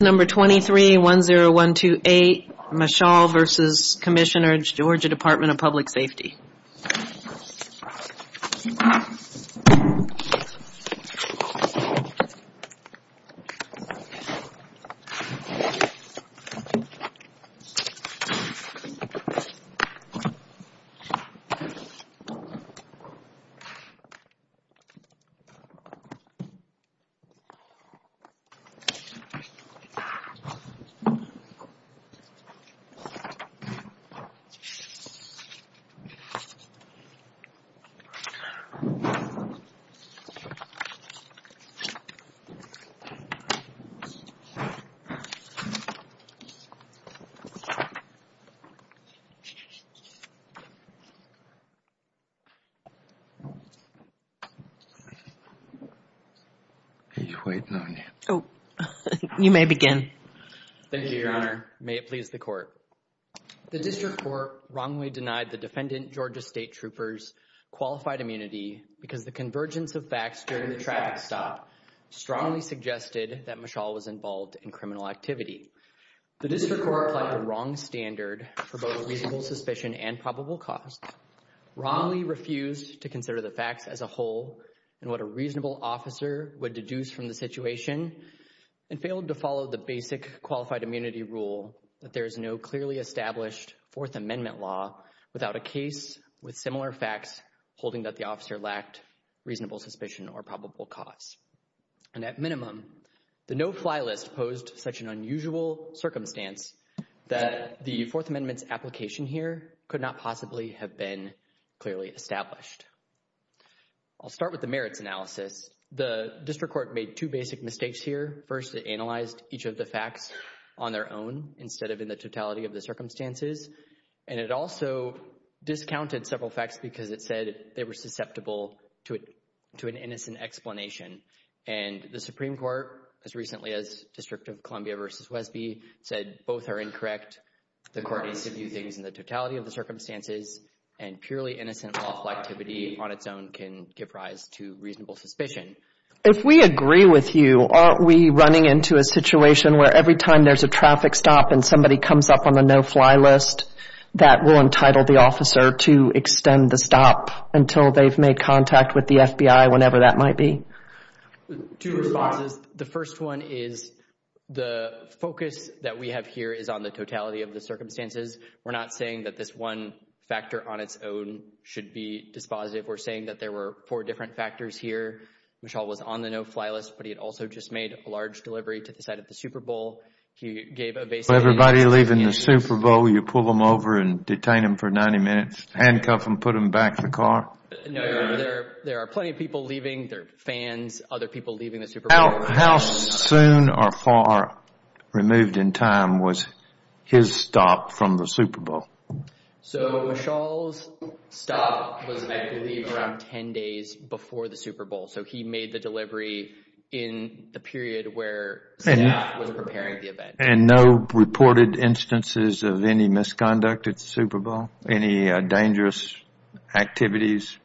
Number 23-10128, Meshal v. Commissioner, Georgia Department of Public Safety. Are you waiting on me? Oh, you may begin. Thank you, Your Honor. May it please the Court. The District Court wrongly denied the defendant, Georgia State Trooper's qualified immunity because the convergence of facts during the traffic stop strongly suggested that Meshal was involved in criminal activity. The District Court applied the wrong standard for both reasonable suspicion and probable cause, wrongly refused to consider the facts as a whole and what a reasonable officer would deduce from the situation, and failed to follow the basic qualified immunity rule that there is no clearly established Fourth Amendment law without a case with similar facts holding that the officer lacked reasonable suspicion or probable cause. And at minimum, the no-fly list posed such an unusual circumstance that the Fourth Amendment's application here could not possibly have been clearly established. I'll start with the merits analysis. The District Court made two basic mistakes here. First, it analyzed each of the facts on their own instead of in the totality of the circumstances, and it also discounted several facts because it said they were susceptible to an innocent explanation. And the Supreme Court, as recently as District of Columbia v. Wesby, said both are incorrect. The Court needs to view things in the totality of the circumstances, and purely innocent lawful activity on its own can give rise to reasonable suspicion. If we agree with you, aren't we running into a situation where every time there's a traffic stop and somebody comes up on the no-fly list, that will entitle the officer to extend the stop until they've made contact with the FBI, whenever that might be? Two responses. The first one is the focus that we have here is on the totality of the circumstances. We're not saying that this one factor on its own should be dispositive. We're saying that there were four different factors here. Michal was on the no-fly list, but he had also just made a large delivery to the side of the Super Bowl. He gave a basic— Everybody leaving the Super Bowl, you pull them over and detain them for 90 minutes, handcuff them, put them back in the car? No, there are plenty of people leaving. There are fans, other people leaving the Super Bowl. How soon or far removed in time was his stop from the Super Bowl? So, Michal's stop was, I believe, around 10 days before the Super Bowl, so he made the delivery in the period where staff was preparing the event. And no reported instances of any misconduct at the Super Bowl? Any dangerous activities?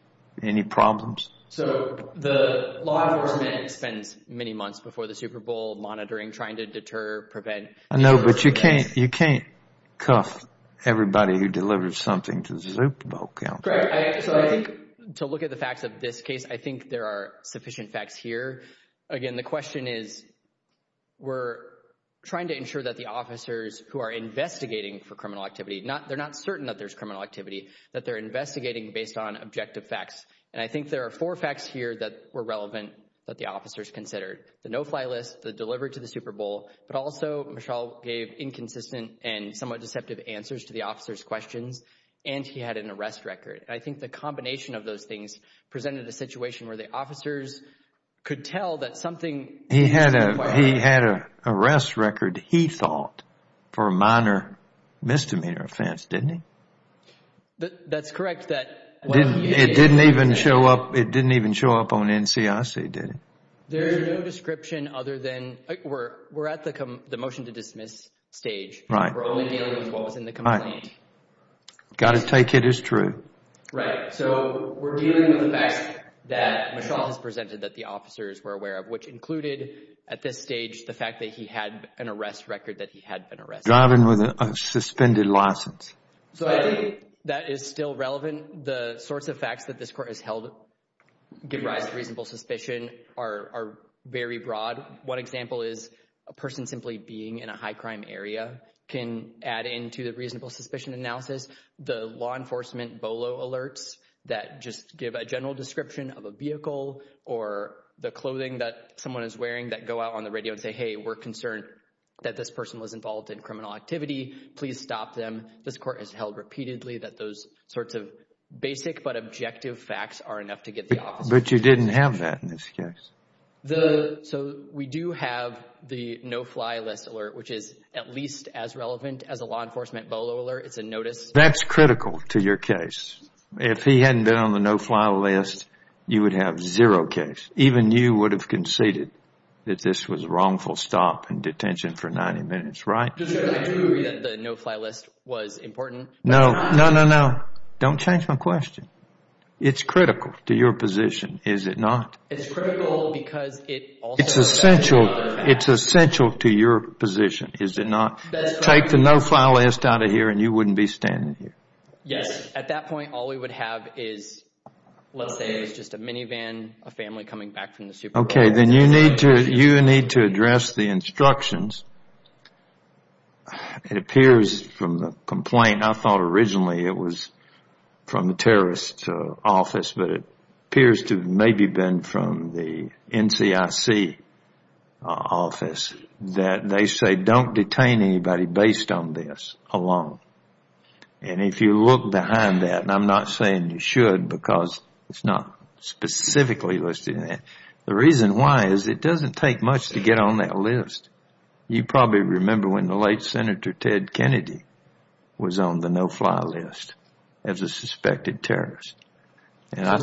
Any problems? So, the law enforcement spends many months before the Super Bowl monitoring, trying to deter, prevent— I know, but you can't cuff everybody who delivers something to the Super Bowl count. Greg, so I think, to look at the facts of this case, I think there are sufficient facts here. Again, the question is, we're trying to ensure that the officers who are investigating for criminal activity, they're not certain that there's criminal activity, that they're investigating based on objective facts. And I think there are four facts here that were relevant that the officers considered. The no-fly list, the delivery to the Super Bowl, but also, Michal gave inconsistent and somewhat deceptive answers to the officers' questions, and he had an arrest record. And I think the combination of those things presented a situation where the officers could tell that something— He had an arrest record, he thought, for a minor misdemeanor offense, didn't he? That's correct, that— It didn't even show up on NCIC, did it? There's no description other than—we're at the motion to dismiss stage. Right. We're only dealing with what was in the complaint. Got to take it as true. Right. So, we're dealing with the fact that Michal has presented that the officers were aware of, which included, at this stage, the fact that he had an arrest record that he had been arrested. Driving with a suspended license. So, I think that is still relevant. The sorts of facts that this court has held give rise to reasonable suspicion are very broad. One example is a person simply being in a high-crime area can add into the reasonable suspicion analysis. The law enforcement BOLO alerts that just give a general description of a vehicle or the clothing that someone is wearing that go out on the radio and say, hey, we're concerned that this person was involved in criminal activity, please stop them. This court has held repeatedly that those sorts of basic but objective facts are enough to get the officers— But you didn't have that in this case. So, we do have the no-fly list alert, which is at least as relevant as a law enforcement BOLO alert. It's a notice— That's critical to your case. If he hadn't been on the no-fly list, you would have zero case. Even you would have conceded that this was a wrongful stop in detention for 90 minutes, right? I agree that the no-fly list was important. No, no, no, no. Don't change my question. It's critical to your position, is it not? It's critical because it also— It's essential to your position, is it not? Take the no-fly list out of here and you wouldn't be standing here. Yes, at that point, all we would have is, let's say, just a minivan, a family coming back from the supermarket. Okay, then you need to address the instructions. It appears from the complaint, I thought originally it was from the terrorist's office, but it appears to have maybe been from the NCIC office that they say don't detain anybody based on this alone. If you look behind that, and I'm not saying you should because it's not specifically listed in there, the reason why is it doesn't take much to get on that list. You probably remember when the late Senator Ted Kennedy was on the no-fly list as a suspected terrorist. I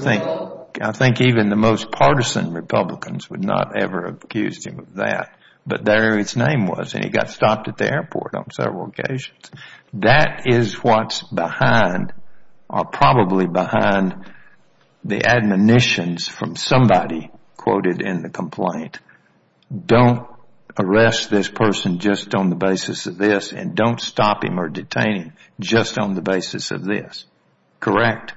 think even the most partisan Republicans would not ever have accused him of that, but there his name was and he got stopped at the airport on several occasions. That is what's probably behind the admonitions from somebody quoted in the complaint. Don't arrest this person just on the basis of this and don't stop him or detain him just on the basis of this. Correct?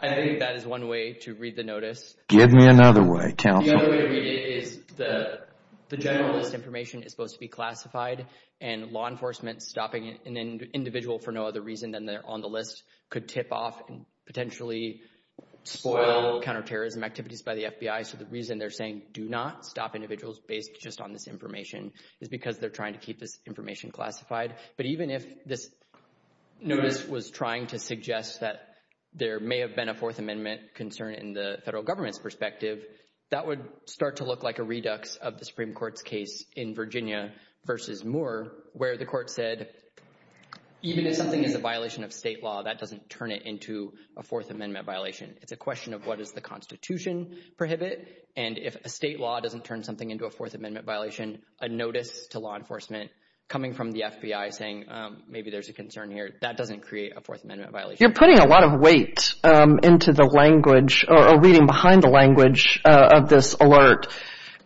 I think that is one way to read the notice. Give me another way, counsel. The other way to read it is the generalist information is supposed to be classified and law enforcement stopping an individual for no other reason than they're on the list could tip off and potentially spoil counterterrorism activities by the FBI. So the reason they're saying do not stop individuals based just on this information is because they're trying to keep this information classified. But even if this notice was trying to suggest that there may have been a Fourth Amendment concern in the federal government's perspective, that would start to look like a redux of the Supreme Court's case in Virginia versus Moore where the court said even if something is a violation of state law, that doesn't turn it into a Fourth Amendment violation. It's a question of what does the Constitution prohibit, and if a state law doesn't turn something into a Fourth Amendment violation, a notice to law enforcement coming from the FBI saying maybe there's a concern here, that doesn't create a Fourth Amendment violation. You're putting a lot of weight into the language or reading behind the language of this alert.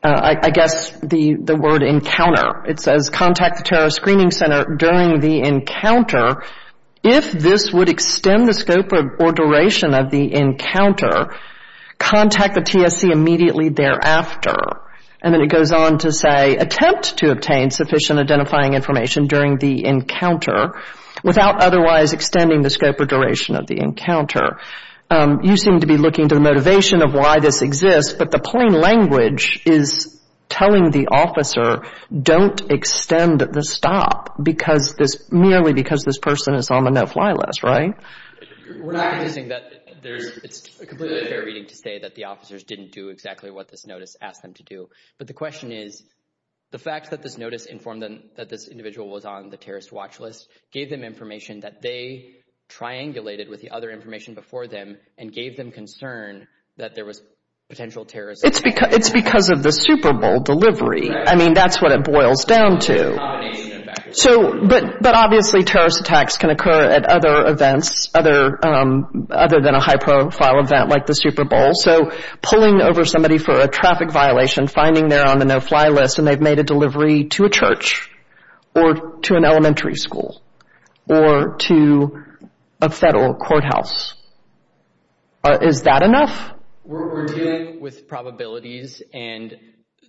I guess the word encounter, it says contact the terrorist screening center during the encounter. If this would extend the scope or duration of the encounter, contact the TSC immediately thereafter. And then it goes on to say attempt to obtain sufficient identifying information during the encounter without otherwise extending the scope or duration of the encounter. You seem to be looking to the motivation of why this exists, but the plain language is telling the officer don't extend the stop because this, merely because this person is on the no-fly list, right? It's completely fair reading to say that the officers didn't do exactly what this notice asked them to do. But the question is, the fact that this notice informed them that this individual was on the terrorist watch list gave them information that they triangulated with the other information before them and gave them concern that there was potential terrorism. It's because of the Super Bowl delivery. I mean, that's what it boils down to. But obviously, terrorist attacks can occur at other events, other than a high-profile event like the Super Bowl. So pulling over somebody for a traffic violation, finding they're on the no-fly list and they've made a delivery to a church or to an elementary school or to a federal courthouse, is that enough? We're dealing with probabilities and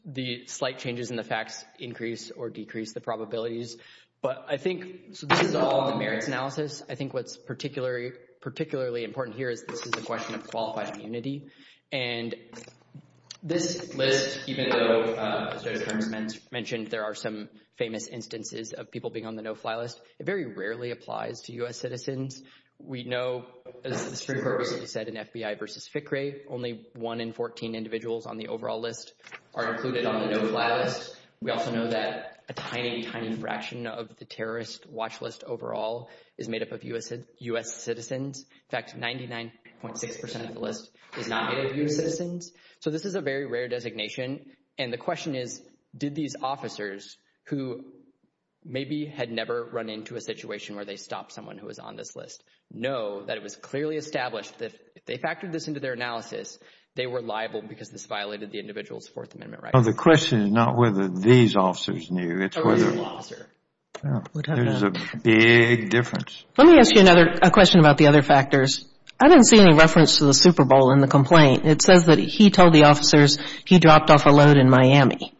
the slight changes in the facts increase or decrease the probabilities. But I think, so this is all in the merits analysis. I think what's particularly important here is this is a question of qualified immunity. And this list, even though, as Joe Terms mentioned, there are some famous instances of people being on the no-fly list, it very rarely applies to U.S. citizens. We know, as the Supreme Court recently said in FBI v. FICRE, only one in 14 individuals on the overall list are included on the no-fly list. We also know that a tiny, tiny fraction of the terrorist watch list overall is made up of U.S. citizens. In fact, 99.6% of the list is not made up of U.S. citizens. So this is a very rare designation. And the question is, did these officers, who maybe had never run into a situation where they stopped someone who was on this list, know that it was clearly established that if they factored this into their analysis, they were liable because this violated the individual's Fourth Amendment rights? Well, the question is not whether these officers knew. It's whether. There's a big difference. Let me ask you another question about the other factors. I didn't see any reference to the Super Bowl in the complaint. It says that he told the officers he dropped off a load in Miami.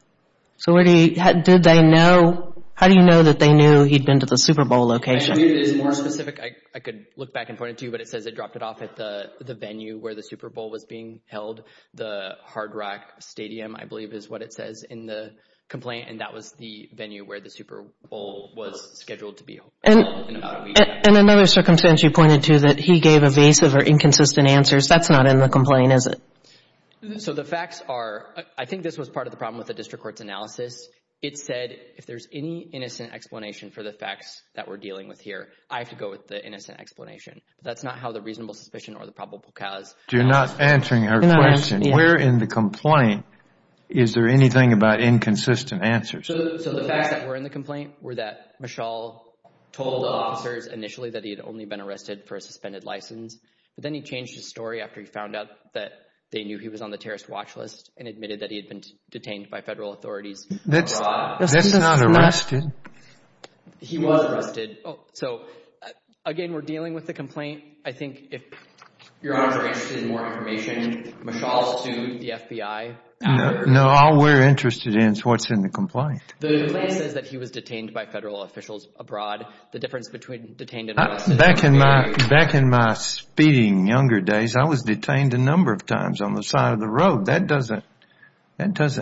So did they know? How do you know that they knew he'd been to the Super Bowl location? I believe it is more specific. I could look back and point it to you, but it says they dropped it off at the venue where the Super Bowl was being held. The Hard Rock Stadium, I believe, is what it says in the complaint. And that was the venue where the Super Bowl was scheduled to be held in about a week. In another circumstance, you pointed to that he gave evasive or inconsistent answers. That's not in the complaint, is it? So the facts are, I think this was part of the problem with the district court's analysis. It said if there's any innocent explanation for the facts that we're dealing with here, I have to go with the innocent explanation. That's not how the reasonable suspicion or the probable cause. You're not answering our question. We're in the complaint. Is there anything about inconsistent answers? So the facts that were in the complaint were that Michal told the officers initially that he had only been arrested for a suspended license, but then he changed his story after he found out that they knew he was on the terrorist watch list and admitted that he had been detained by federal authorities. That's not arrested. He was arrested. So, again, we're dealing with the complaint. I think if Your Honor is interested in more information, Michal sued the FBI. No, all we're interested in is what's in the complaint. The complaint says that he was detained by federal officials abroad. The difference between detained and arrested is very clear. Back in my speeding younger days, I was detained a number of times on the side of the road. That doesn't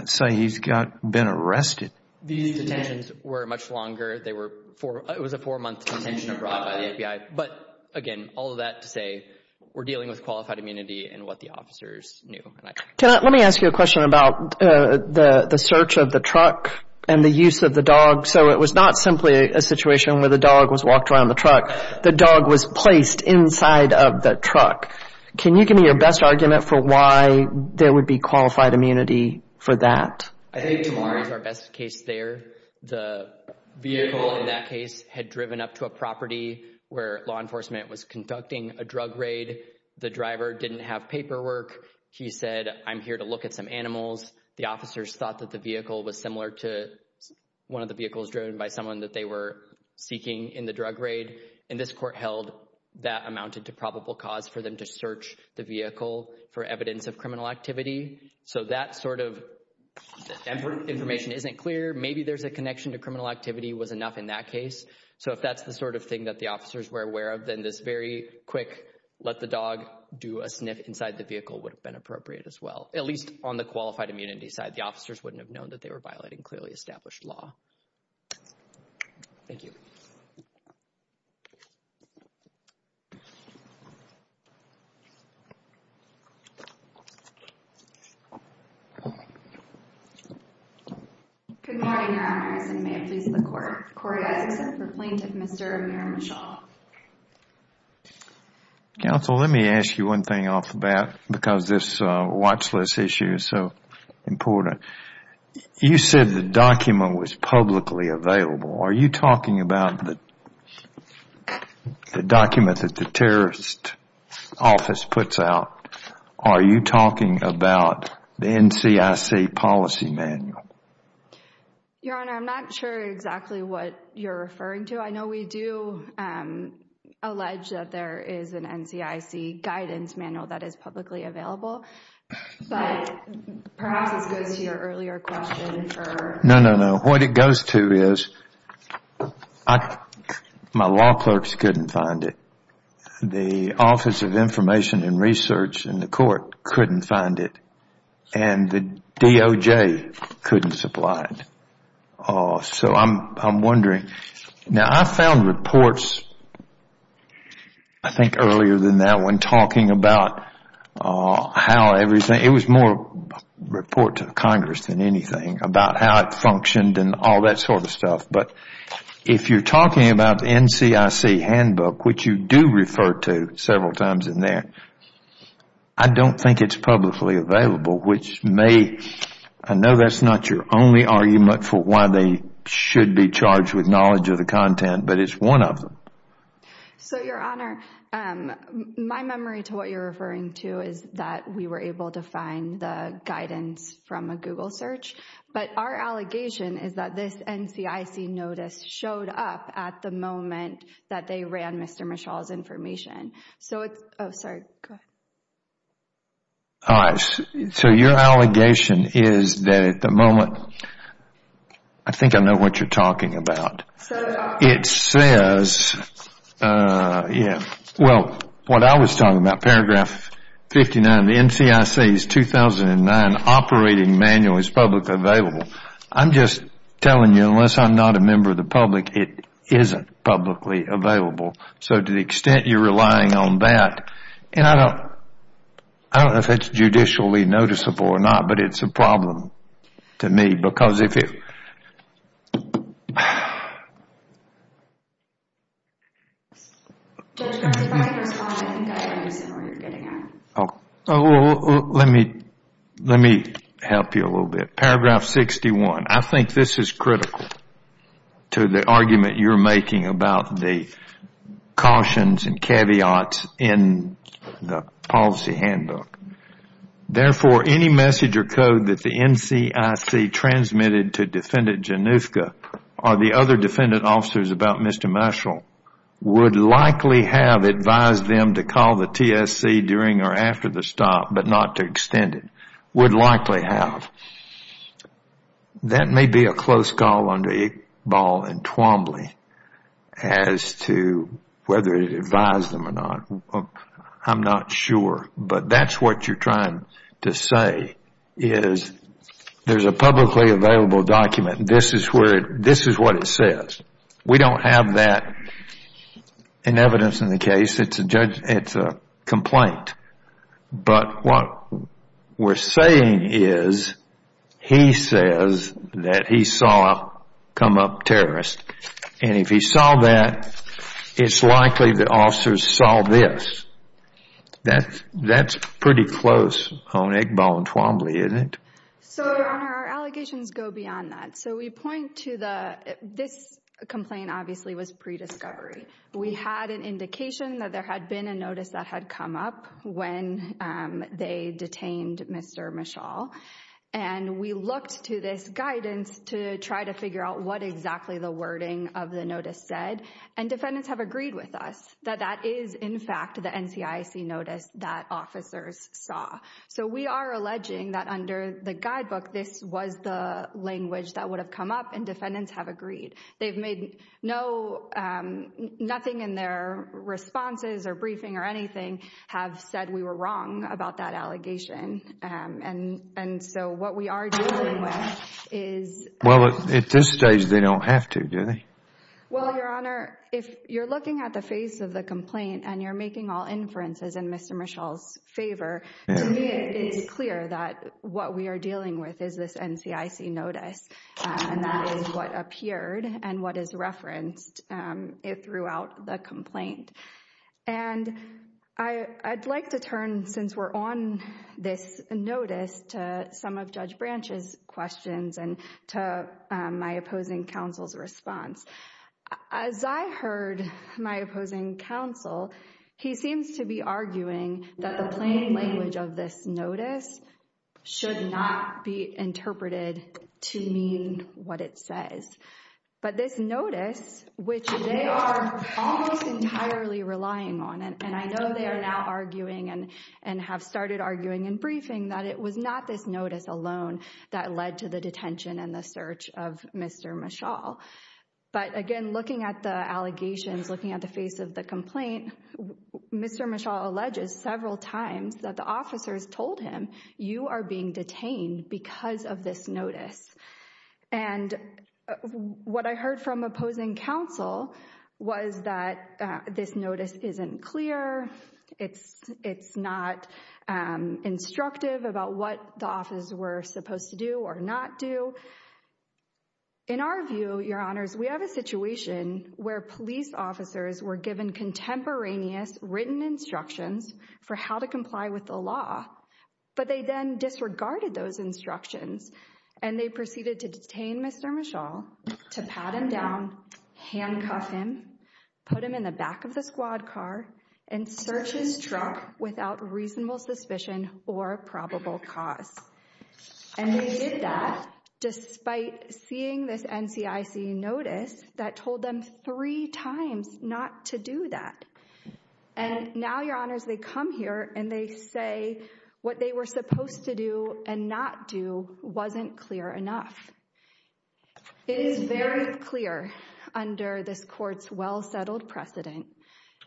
say he's been arrested. These detentions were much longer. It was a four-month detention abroad by the FBI. But, again, all of that to say we're dealing with qualified immunity and what the officers knew. Let me ask you a question about the search of the truck and the use of the dog. So it was not simply a situation where the dog was walked around the truck. The dog was placed inside of the truck. Can you give me your best argument for why there would be qualified immunity for that? I think Tamari is our best case there. The vehicle in that case had driven up to a property where law enforcement was conducting a drug raid. The driver didn't have paperwork. He said, I'm here to look at some animals. The officers thought that the vehicle was similar to one of the vehicles driven by someone that they were seeking in the drug raid. And this court held that amounted to probable cause for them to search the vehicle for evidence of criminal activity. So that sort of information isn't clear. Maybe there's a connection to criminal activity was enough in that case. So if that's the sort of thing that the officers were aware of, then this very quick let the dog do a sniff inside the vehicle would have been appropriate as well, at least on the qualified immunity side. The officers wouldn't have known that they were violating clearly established law. Thank you. Good morning, Your Honor. May it please the court. Court has accepted the plaintiff, Mr. Amir Mishaw. Counsel, let me ask you one thing off the bat because this watch list issue is so important. You said the document was publicly available. Are you talking about the document that the terrorist office puts out? Are you talking about the NCIC policy manual? Your Honor, I'm not sure exactly what you're referring to. I know we do allege that there is an NCIC guidance manual that is publicly available. But perhaps this goes to your earlier question. No, no, no. What it goes to is my law clerks couldn't find it. The Office of Information and Research in the court couldn't find it. And the DOJ couldn't supply it. So I'm wondering. Now, I found reports I think earlier than that one talking about how everything It was more a report to Congress than anything about how it functioned and all that sort of stuff. But if you're talking about the NCIC handbook, which you do refer to several times in there, I don't think it's publicly available. I know that's not your only argument for why they should be charged with knowledge of the content, but it's one of them. So, Your Honor, my memory to what you're referring to is that we were able to find the guidance from a Google search. But our allegation is that this NCIC notice showed up at the moment that they ran Mr. Michal's information. So it's... Oh, sorry. Go ahead. All right. So your allegation is that at the moment... I think I know what you're talking about. It says... Well, what I was talking about, paragraph 59, the NCIC's 2009 operating manual is publicly available. I'm just telling you, unless I'm not a member of the public, it isn't publicly available. So to the extent you're relying on that... And I don't know if it's judicially noticeable or not, but it's a problem to me. Because if it... Judge, if I can respond, I think I understand what you're getting at. Let me help you a little bit. Paragraph 61. I think this is critical to the argument you're making about the cautions and caveats in the policy handbook. Therefore, any message or code that the NCIC transmitted to Defendant Januska or the other defendant officers about Mr. Michal would likely have advised them to call the TSC during or after the stop, but not to extend it. Would likely have. That may be a close call under Iqbal and Twombly as to whether it advised them or not. I'm not sure. But that's what you're trying to say is there's a publicly available document. This is what it says. We don't have that in evidence in the case. It's a complaint. But what we're saying is he says that he saw come up terrorists. And if he saw that, it's likely the officers saw this. That's pretty close on Iqbal and Twombly, isn't it? So, Your Honor, our allegations go beyond that. So we point to the... This complaint obviously was pre-discovery. We had an indication that there had been a notice that had come up when they detained Mr. Michal. And we looked to this guidance to try to figure out what exactly the wording of the notice said. And defendants have agreed with us that that is, in fact, the NCIC notice that officers saw. So we are alleging that under the guidebook, this was the language that would have come up. And defendants have agreed. They've made no... Nothing in their responses or briefing or anything have said we were wrong about that allegation. And so what we are dealing with is... Well, at this stage, they don't have to, do they? Well, Your Honor, if you're looking at the face of the complaint and you're making all inferences in Mr. Michal's favor, to me, it's clear that what we are dealing with is this NCIC notice. And that is what appeared and what is referenced throughout the complaint. And I'd like to turn, since we're on this notice, to some of Judge Branch's questions and to my opposing counsel's response. As I heard my opposing counsel, he seems to be arguing that the plain language of this notice should not be interpreted to mean what it says. But this notice, which they are almost entirely relying on, and I know they are now arguing and have started arguing and briefing, that it was not this notice alone that led to the detention and the search of Mr. Michal. But again, looking at the allegations, looking at the face of the complaint, Mr. Michal alleges several times that the officers told him, you are being detained because of this notice. And what I heard from opposing counsel was that this notice isn't clear. It's not instructive about what the office were supposed to do or not do. In our view, Your Honors, we have a situation where police officers were given contemporaneous written instructions for how to comply with the law. But they then disregarded those instructions and they proceeded to detain Mr. Michal, to pat him down, handcuff him, put him in the back of the squad car, and search his truck without reasonable suspicion or probable cause. And they did that despite seeing this NCIC notice that told them three times not to do that. And now, Your Honors, they come here and they say what they were supposed to do and not do wasn't clear enough. It is very clear under this court's well-settled precedent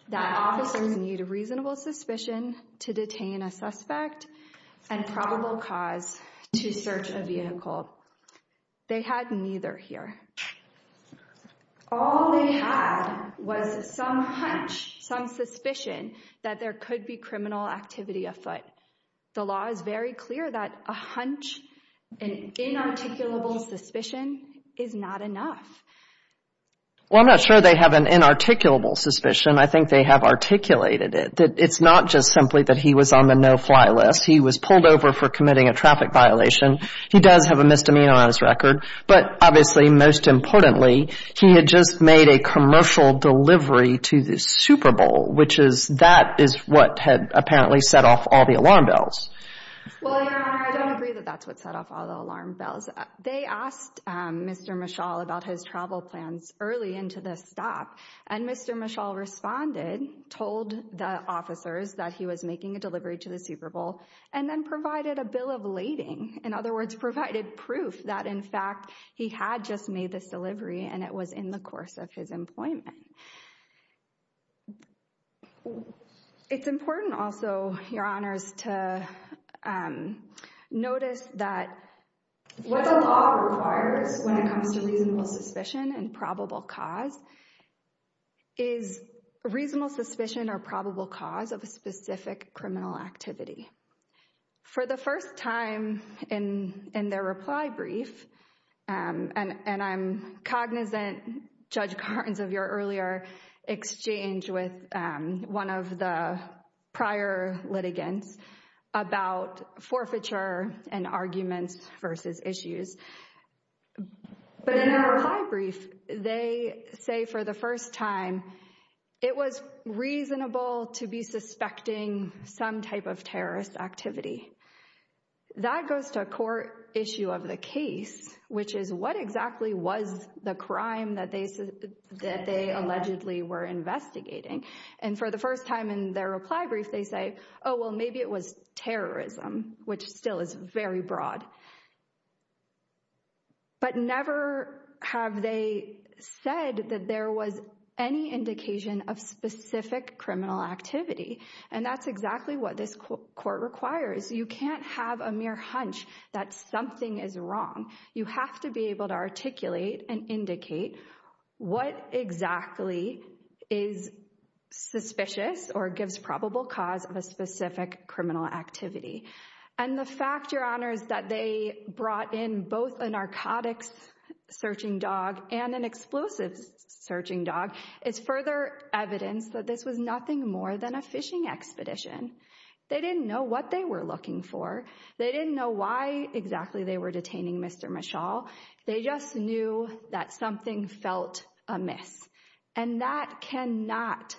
that officers need reasonable suspicion to detain a suspect and probable cause to search a vehicle. They had neither here. All they had was some hunch, some suspicion that there could be criminal activity afoot. The law is very clear that a hunch, an inarticulable suspicion, is not enough. Well, I'm not sure they have an inarticulable suspicion. I think they have articulated it, that it's not just simply that he was on the no-fly list. He was pulled over for committing a traffic violation. He does have a misdemeanor on his record. But obviously, most importantly, he had just made a commercial delivery to the Super Bowl, which is that is what had apparently set off all the alarm bells. Well, Your Honor, I don't agree that that's what set off all the alarm bells. They asked Mr. Michal about his travel plans early into the stop, and Mr. Michal responded, told the officers that he was making a delivery to the Super Bowl, and then provided a bill of lading. In other words, provided proof that, in fact, he had just made this delivery, and it was in the course of his employment. It's important also, Your Honors, to notice that what the law requires when it comes to reasonable suspicion and probable cause is reasonable suspicion or probable cause of a specific criminal activity. For the first time in their reply brief, and I'm cognizant, Judge Gartens, of your earlier exchange with one of the prior litigants about forfeiture and arguments versus issues. But in their reply brief, they say for the first time, it was reasonable to be suspecting some type of terrorist activity. That goes to a core issue of the case, which is what exactly was the crime that they allegedly were investigating? And for the first time in their reply brief, they say, oh, well, maybe it was terrorism, which still is very broad. But never have they said that there was any indication of specific criminal activity. And that's exactly what this court requires. You can't have a mere hunch that something is wrong. You have to be able to articulate and indicate what exactly is suspicious or gives probable cause of a specific criminal activity. And the fact, Your Honors, that they brought in both a narcotics searching dog and an explosives searching dog is further evidence that this was nothing more than a fishing expedition. They didn't know what they were looking for. They didn't know why exactly they were detaining Mr. Michal. They just knew that something felt amiss. And that cannot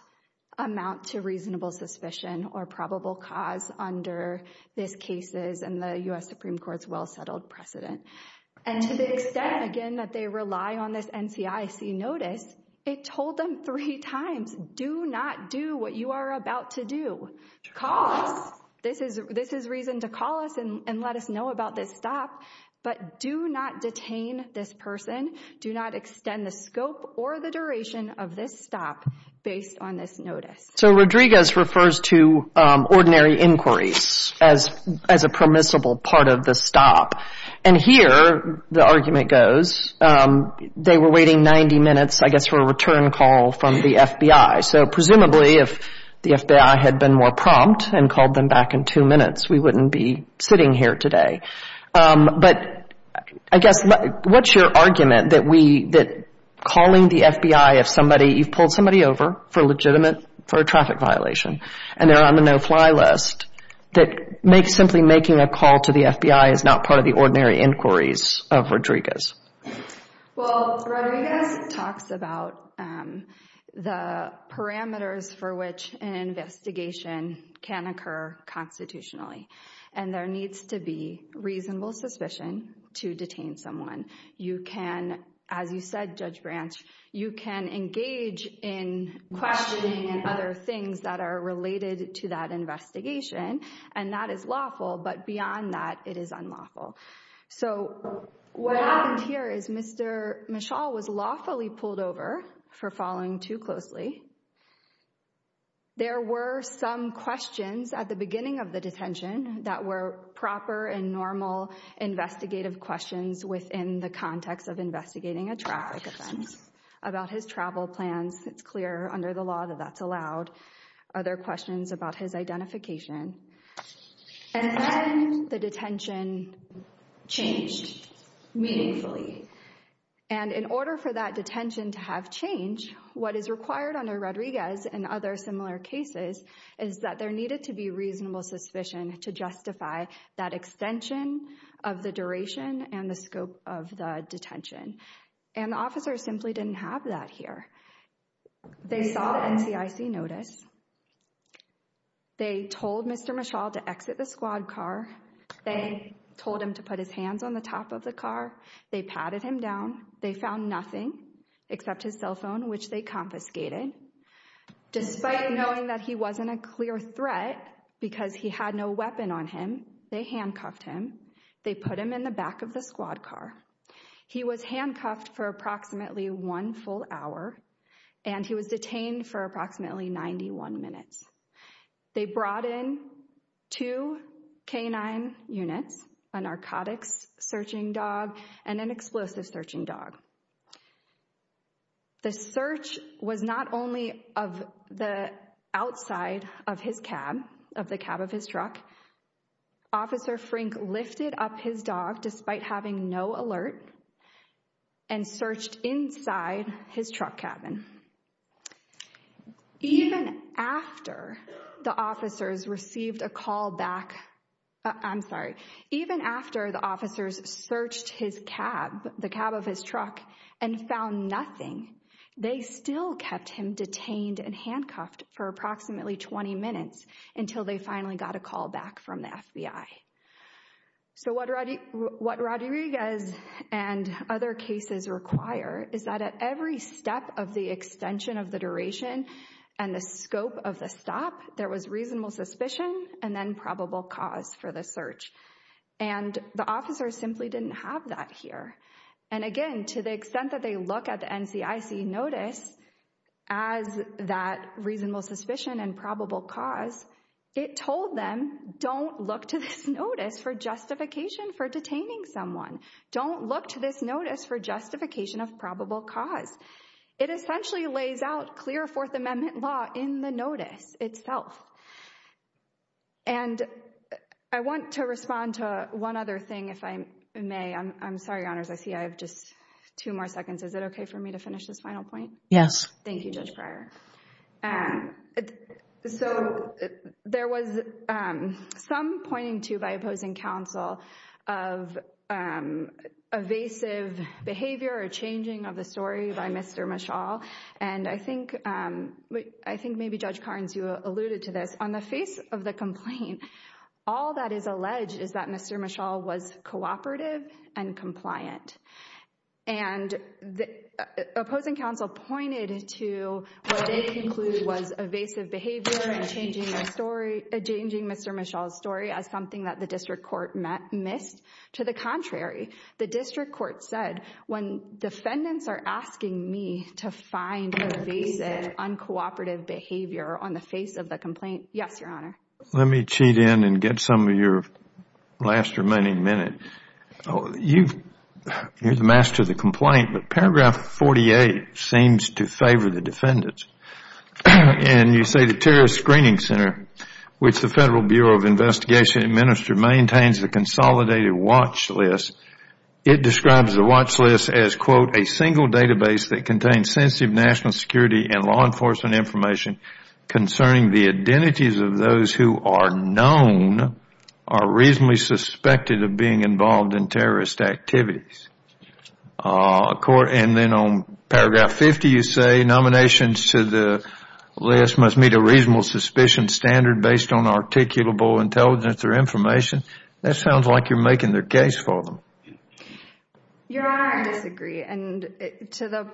amount to reasonable suspicion or probable cause under this case's and the U.S. Supreme Court's well-settled precedent. And to the extent, again, that they rely on this NCIC notice, it told them three times, do not do what you are about to do. Call us. This is reason to call us and let us know about this stop. But do not detain this person. Do not extend the scope or the duration of this stop based on this notice. So Rodriguez refers to ordinary inquiries as a permissible part of the stop. And here the argument goes they were waiting 90 minutes, I guess, for a return call from the FBI. So presumably if the FBI had been more prompt and called them back in two minutes, we wouldn't be sitting here today. But I guess what's your argument that calling the FBI if somebody, you've pulled somebody over for legitimate, for a traffic violation, and they're on the no-fly list, that simply making a call to the FBI is not part of the ordinary inquiries of Rodriguez? Well, Rodriguez talks about the parameters for which an investigation can occur constitutionally. And there needs to be reasonable suspicion to detain someone. You can, as you said, Judge Branch, you can engage in questioning and other things that are related to that investigation. And that is lawful, but beyond that, it is unlawful. So what happened here is Mr. Michal was lawfully pulled over for following too closely. There were some questions at the beginning of the detention that were proper and normal investigative questions within the context of investigating a traffic offense about his travel plans. It's clear under the law that that's allowed. Other questions about his identification. And then the detention changed meaningfully. And in order for that detention to have changed, what is required under Rodriguez and other similar cases is that there needed to be reasonable suspicion to justify that extension of the duration and the scope of the detention. And the officers simply didn't have that here. They saw the NCIC notice. They told Mr. Michal to exit the squad car. They told him to put his hands on the top of the car. They patted him down. They found nothing except his cell phone, which they confiscated. Despite knowing that he wasn't a clear threat because he had no weapon on him, they handcuffed him. They put him in the back of the squad car. He was handcuffed for approximately one full hour, and he was detained for approximately 91 minutes. They brought in two canine units, a narcotics-searching dog and an explosive-searching dog. The search was not only of the outside of his cab, of the cab of his truck. Officer Frink lifted up his dog despite having no alert and searched inside his truck cabin. Even after the officers received a call back, I'm sorry, even after the officers searched his cab, the cab of his truck, and found nothing, they still kept him detained and handcuffed for approximately 20 minutes until they finally got a call back from the FBI. So what Rodriguez and other cases require is that at every step of the extension of the duration and the scope of the stop, there was reasonable suspicion and then probable cause for the search. And the officers simply didn't have that here. And again, to the extent that they look at the NCIC notice as that reasonable suspicion and probable cause, it told them, don't look to this notice for justification for detaining someone. Don't look to this notice for justification of probable cause. It essentially lays out clear Fourth Amendment law in the notice itself. And I want to respond to one other thing, if I may. I'm sorry, Your Honors, I see I have just two more seconds. Is it okay for me to finish this final point? Yes. Thank you, Judge Pryor. So there was some pointing to by opposing counsel of evasive behavior or changing of the story by Mr. Michal. And I think maybe, Judge Carnes, you alluded to this. On the face of the complaint, all that is alleged is that Mr. Michal was cooperative and compliant. And opposing counsel pointed to what they conclude was evasive behavior and changing Mr. Michal's story as something that the district court missed. To the contrary, the district court said, when defendants are asking me to find evasive, uncooperative behavior on the face of the complaint, yes, Your Honor. Let me cheat in and get some of your last remaining minutes. You are the master of the complaint. But paragraph 48 seems to favor the defendants. And you say the terrorist screening center, which the Federal Bureau of Investigation administered, maintains the consolidated watch list. It describes the watch list as, quote, a single database that contains sensitive national security and law enforcement information concerning the identities of those who are known or reasonably suspected of being involved in terrorist activities. And then on paragraph 50, you say nominations to the list must meet a reasonable suspicion standard based on articulable intelligence or information. That sounds like you're making their case for them. Your Honor, I disagree. And to the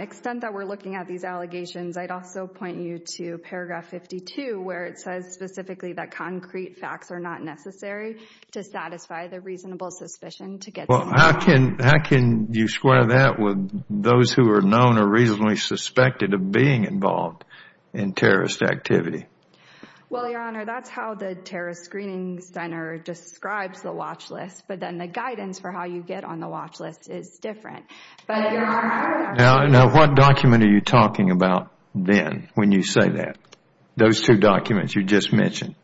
extent that we're looking at these allegations, I'd also point you to paragraph 52, where it says specifically that concrete facts are not necessary to satisfy the reasonable suspicion to get some information. How can you square that with those who are known or reasonably suspected of being involved in terrorist activity? Well, Your Honor, that's how the terrorist screening center describes the watch list. But then the guidance for how you get on the watch list is different. Now, what document are you talking about then when you say that? Those two documents you just mentioned.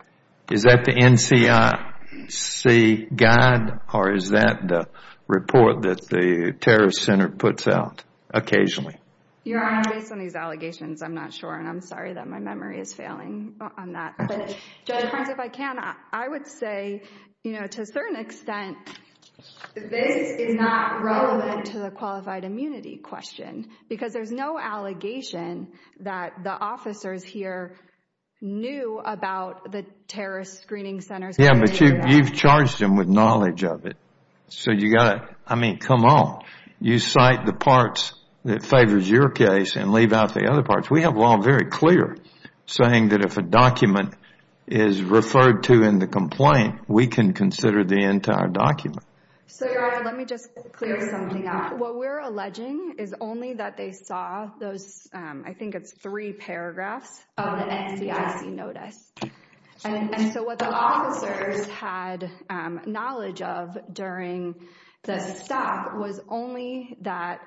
Is that the NCIC guide or is that the report that the terrorist center puts out occasionally? Your Honor, based on these allegations, I'm not sure, and I'm sorry that my memory is failing on that. But, Judge Farns, if I can, I would say, you know, to a certain extent, this is not relevant to the qualified immunity question because there's no allegation that the officers here knew about the terrorist screening centers. Yeah, but you've charged them with knowledge of it. So you've got to, I mean, come on. You cite the parts that favors your case and leave out the other parts. We have law very clear saying that if a document is referred to in the complaint, we can consider the entire document. So, Your Honor, let me just clear something up. What we're alleging is only that they saw those, I think it's three paragraphs of the NCIC notice. And so what the officers had knowledge of during the stop was only that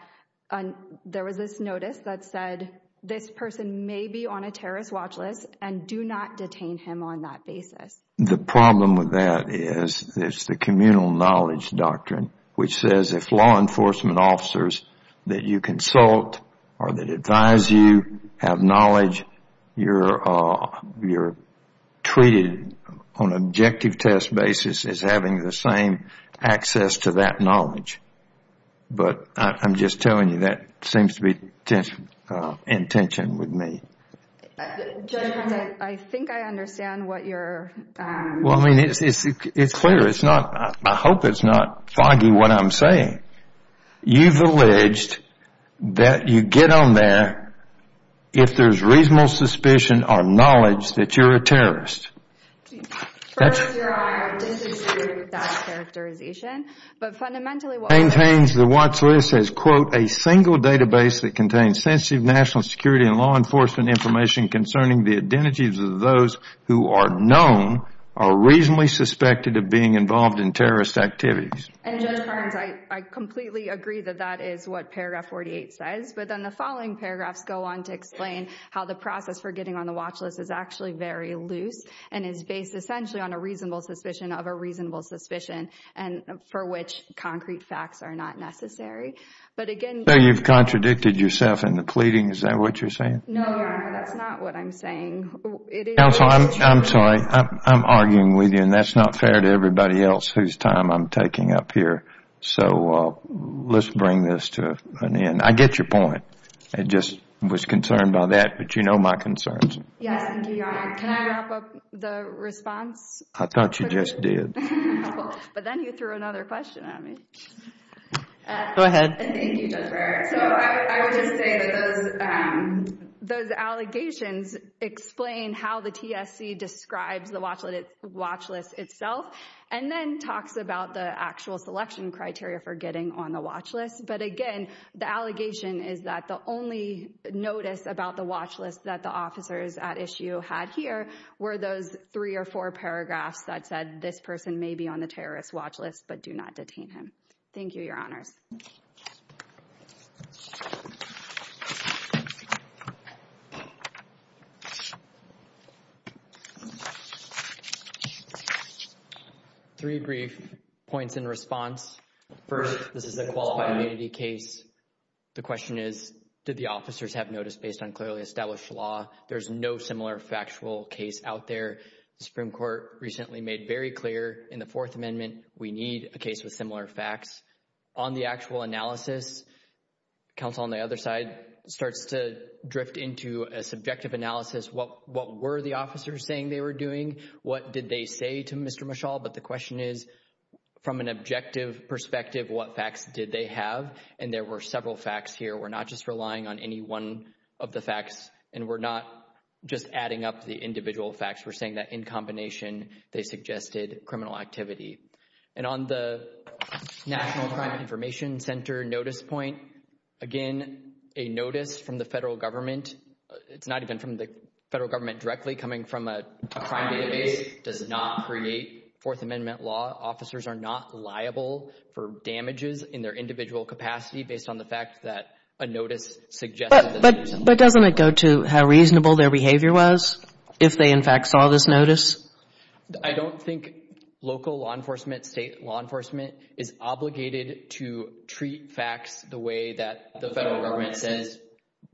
there was this notice that said this person may be on a terrorist watch list and do not detain him on that basis. The problem with that is there's the communal knowledge doctrine, which says if law enforcement officers that you consult or that advise you have knowledge, you're treated on an objective test basis as having the same access to that knowledge. But I'm just telling you that seems to be in tension with me. Judge Hunt, I think I understand what you're... Well, I mean, it's clear. It's not, I hope it's not foggy what I'm saying. You've alleged that you get on there if there's reasonable suspicion or knowledge that you're a terrorist. First, Your Honor, I disagree with that characterization. But fundamentally... Maintains the watch list as, quote, a single database that contains sensitive national security and law enforcement information concerning the identities of those who are known or reasonably suspected of being involved in terrorist activities. And Judge Barnes, I completely agree that that is what paragraph 48 says. But then the following paragraphs go on to explain how the process for getting on the watch list is actually very loose and is based essentially on a reasonable suspicion of a reasonable suspicion for which concrete facts are not necessary. But again... So you've contradicted yourself in the pleading. Is that what you're saying? No, Your Honor, that's not what I'm saying. Counsel, I'm sorry. I'm arguing with you, and that's not fair to everybody else whose time I'm taking up here. So let's bring this to an end. I get your point. I just was concerned by that, but you know my concerns. Yes, and Your Honor, can I wrap up the response? I thought you just did. But then you threw another question at me. Go ahead. Thank you, Judge Breyer. So I would just say that those allegations explain how the TSC describes the watch list itself and then talks about the actual selection criteria for getting on the watch list. But again, the allegation is that the only notice about the watch list that the officers at issue had here were those three or four paragraphs that said this person may be on the terrorist watch list, but do not detain him. Thank you, Your Honors. Three brief points in response. First, this is a qualified immunity case. The question is, did the officers have notice based on clearly established law? There's no similar factual case out there. The Supreme Court recently made very clear in the Fourth Amendment we need a case with similar facts. On the actual analysis, counsel on the other side starts to drift into a subjective analysis. What were the officers saying they were doing? What did they say to Mr. Mishal? But the question is, from an objective perspective, what facts did they have? And there were several facts here. We're not just relying on any one of the facts, and we're not just adding up the individual facts. We're saying that in combination they suggested criminal activity. And on the National Crime Information Center notice point, again, a notice from the Federal Government, it's not even from the Federal Government directly, coming from a crime database, does not create Fourth Amendment law. Officers are not liable for damages in their individual capacity based on the fact that a notice suggests that they did something. But doesn't it go to how reasonable their behavior was if they, in fact, saw this notice? I don't think local law enforcement, state law enforcement, is obligated to treat facts the way that the Federal Government says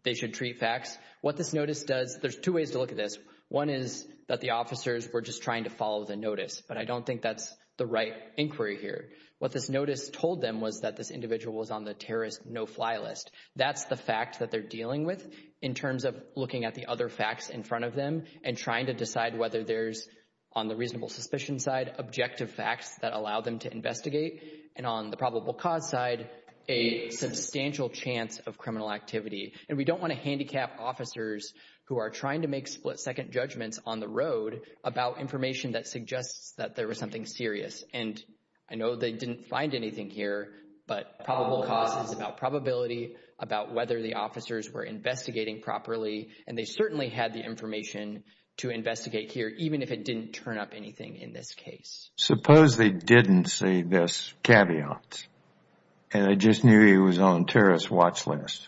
they should treat facts. What this notice does, there's two ways to look at this. One is that the officers were just trying to follow the notice, but I don't think that's the right inquiry here. What this notice told them was that this individual was on the terrorist no-fly list. That's the fact that they're dealing with in terms of looking at the other facts in front of them and trying to decide whether there's, on the reasonable suspicion side, objective facts that allow them to investigate, and on the probable cause side, a substantial chance of criminal activity. And we don't want to handicap officers who are trying to make split-second judgments on the road about information that suggests that there was something serious. And I know they didn't find anything here, but probable cause is about probability, about whether the officers were investigating properly, and they certainly had the information to investigate here, even if it didn't turn up anything in this case. Suppose they didn't see this caveat, and they just knew he was on the terrorist watch list.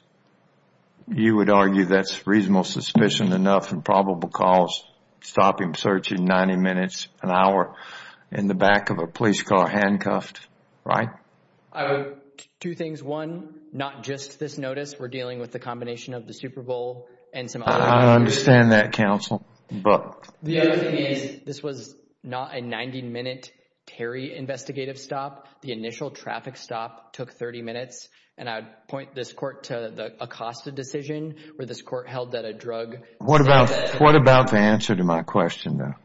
You would argue that's reasonable suspicion enough and probable cause to stop him searching 90 minutes, an hour, in the back of a police car handcuffed, right? Two things. One, not just this notice. We're dealing with the combination of the Super Bowl and some other... I understand that, counsel, but... The other thing is, this was not a 90-minute Terry investigative stop. The initial traffic stop took 30 minutes, and I would point this court to the Acosta decision where this court held that a drug... What about the answer to my question, though?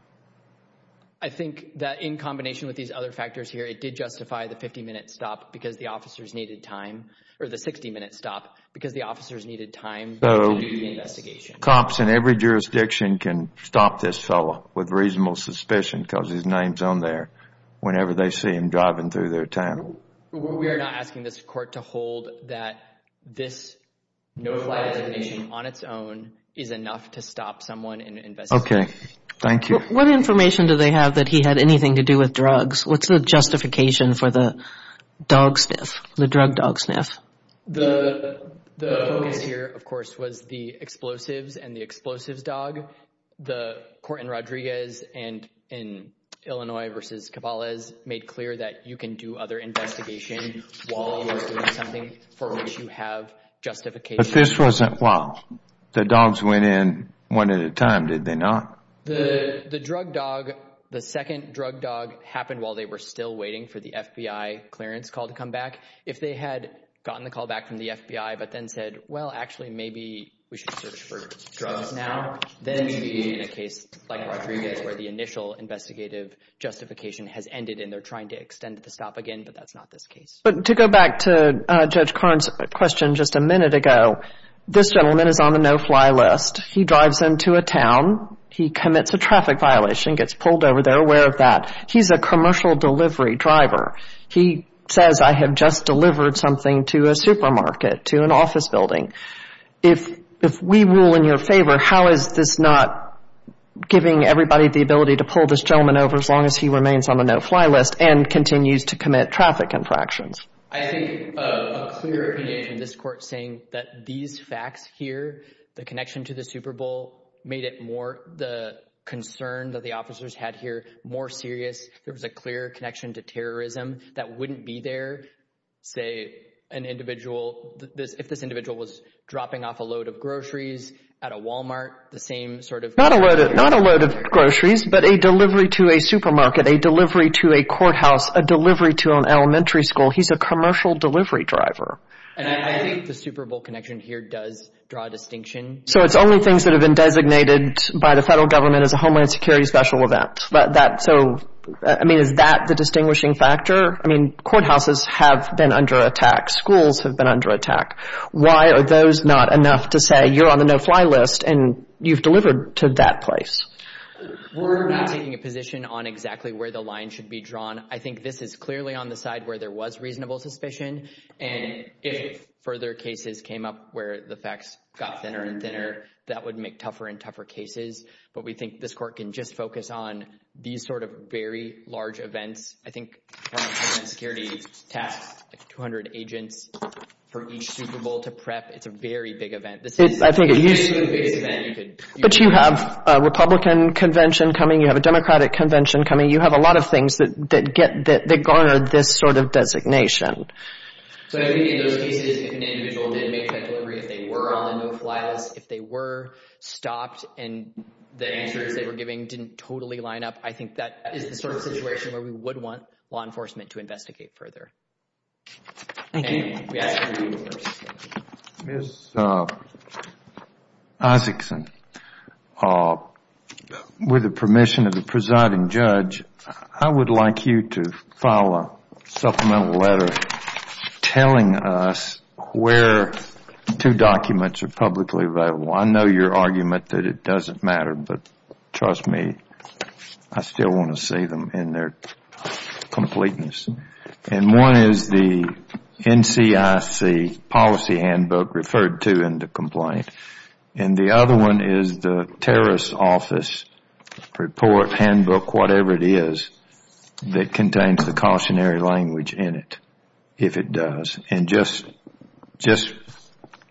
I think that in combination with these other factors here, it did justify the 50-minute stop because the officers needed time, or the 60-minute stop because the officers needed time to do the investigation. Cops in every jurisdiction can stop this fellow with reasonable suspicion because his name's on there whenever they see him driving through their town. We are not asking this court to hold that this no-fly designation on its own is enough to stop someone investigating. Okay. Thank you. What information do they have that he had anything to do with drugs? What's the justification for the dog sniff, the drug dog sniff? The focus here, of course, was the explosives and the explosives dog. The court in Rodriguez and in Illinois versus Cabales made clear that you can do other investigation while you're doing something for which you have justification. But this wasn't... Well, the dogs went in one at a time, did they not? The drug dog, the second drug dog happened while they were still waiting for the FBI clearance call to come back. If they had gotten the call back from the FBI but then said, well, actually, maybe we should search for drugs now, then you'd be in a case like Rodriguez where the initial investigative justification has ended and they're trying to extend the stop again, but that's not this case. But to go back to Judge Karn's question just a minute ago, this gentleman is on the no-fly list. He drives into a town. He commits a traffic violation, gets pulled over. They're aware of that. He's a commercial delivery driver. He says, I have just delivered something to a supermarket, to an office building. If we rule in your favor, how is this not giving everybody the ability to pull this gentleman over as long as he remains on the no-fly list and continues to commit traffic infractions? I think a clear opinion from this court saying that these facts here, the connection to the Super Bowl made it more the concern that the officers had here more serious. There was a clear connection to terrorism that wouldn't be there, say, an individual, if this individual was dropping off a load of groceries at a Walmart, the same sort of thing. Not a load of groceries, but a delivery to a supermarket, a delivery to a courthouse, a delivery to an elementary school. He's a commercial delivery driver. And I think the Super Bowl connection here does draw a distinction. So it's only things that have been designated by the federal government as a Homeland Security special event. So, I mean, is that the distinguishing factor? I mean, courthouses have been under attack. Schools have been under attack. Why are those not enough to say you're on the no-fly list and you've delivered to that place? We're not taking a position on exactly where the line should be drawn. I think this is clearly on the side where there was reasonable suspicion, and if further cases came up where the facts got thinner and thinner, that would make tougher and tougher cases. But we think this court can just focus on these sort of very large events. I think Homeland Security tasked 200 agents for each Super Bowl to prep. It's a very big event. It's basically the biggest event you could do. But you have a Republican convention coming. You have a Democratic convention coming. You have a lot of things that guard this sort of designation. So I think in those cases, if an individual did make that delivery, if they were on the no-fly list, if they were stopped and the answers they were giving didn't totally line up, I think that is the sort of situation where we would want law enforcement to investigate further. Thank you. Ms. Isaacson, with the permission of the presiding judge, I would like you to file a supplemental letter telling us where two documents are publicly available. I know your argument that it doesn't matter, but trust me, I still want to see them in their completeness. And one is the NCIC policy handbook referred to in the complaint, and the other one is the terrorist office report handbook, whatever it is, that contains the cautionary language in it, if it does. And just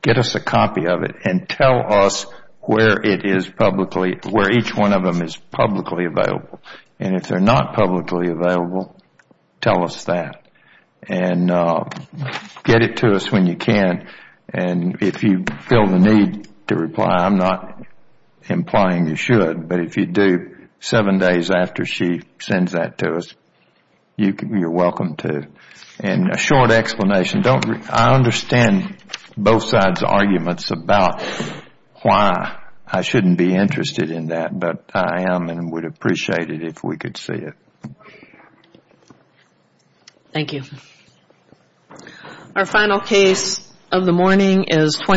get us a copy of it and tell us where it is publicly, where each one of them is publicly available. And if they're not publicly available, tell us that. And get it to us when you can. And if you feel the need to reply, I'm not implying you should, but if you do seven days after she sends that to us, you're welcome to. And a short explanation. I understand both sides' arguments about why I shouldn't be interested in that, but I am and would appreciate it if we could see it. Thank you.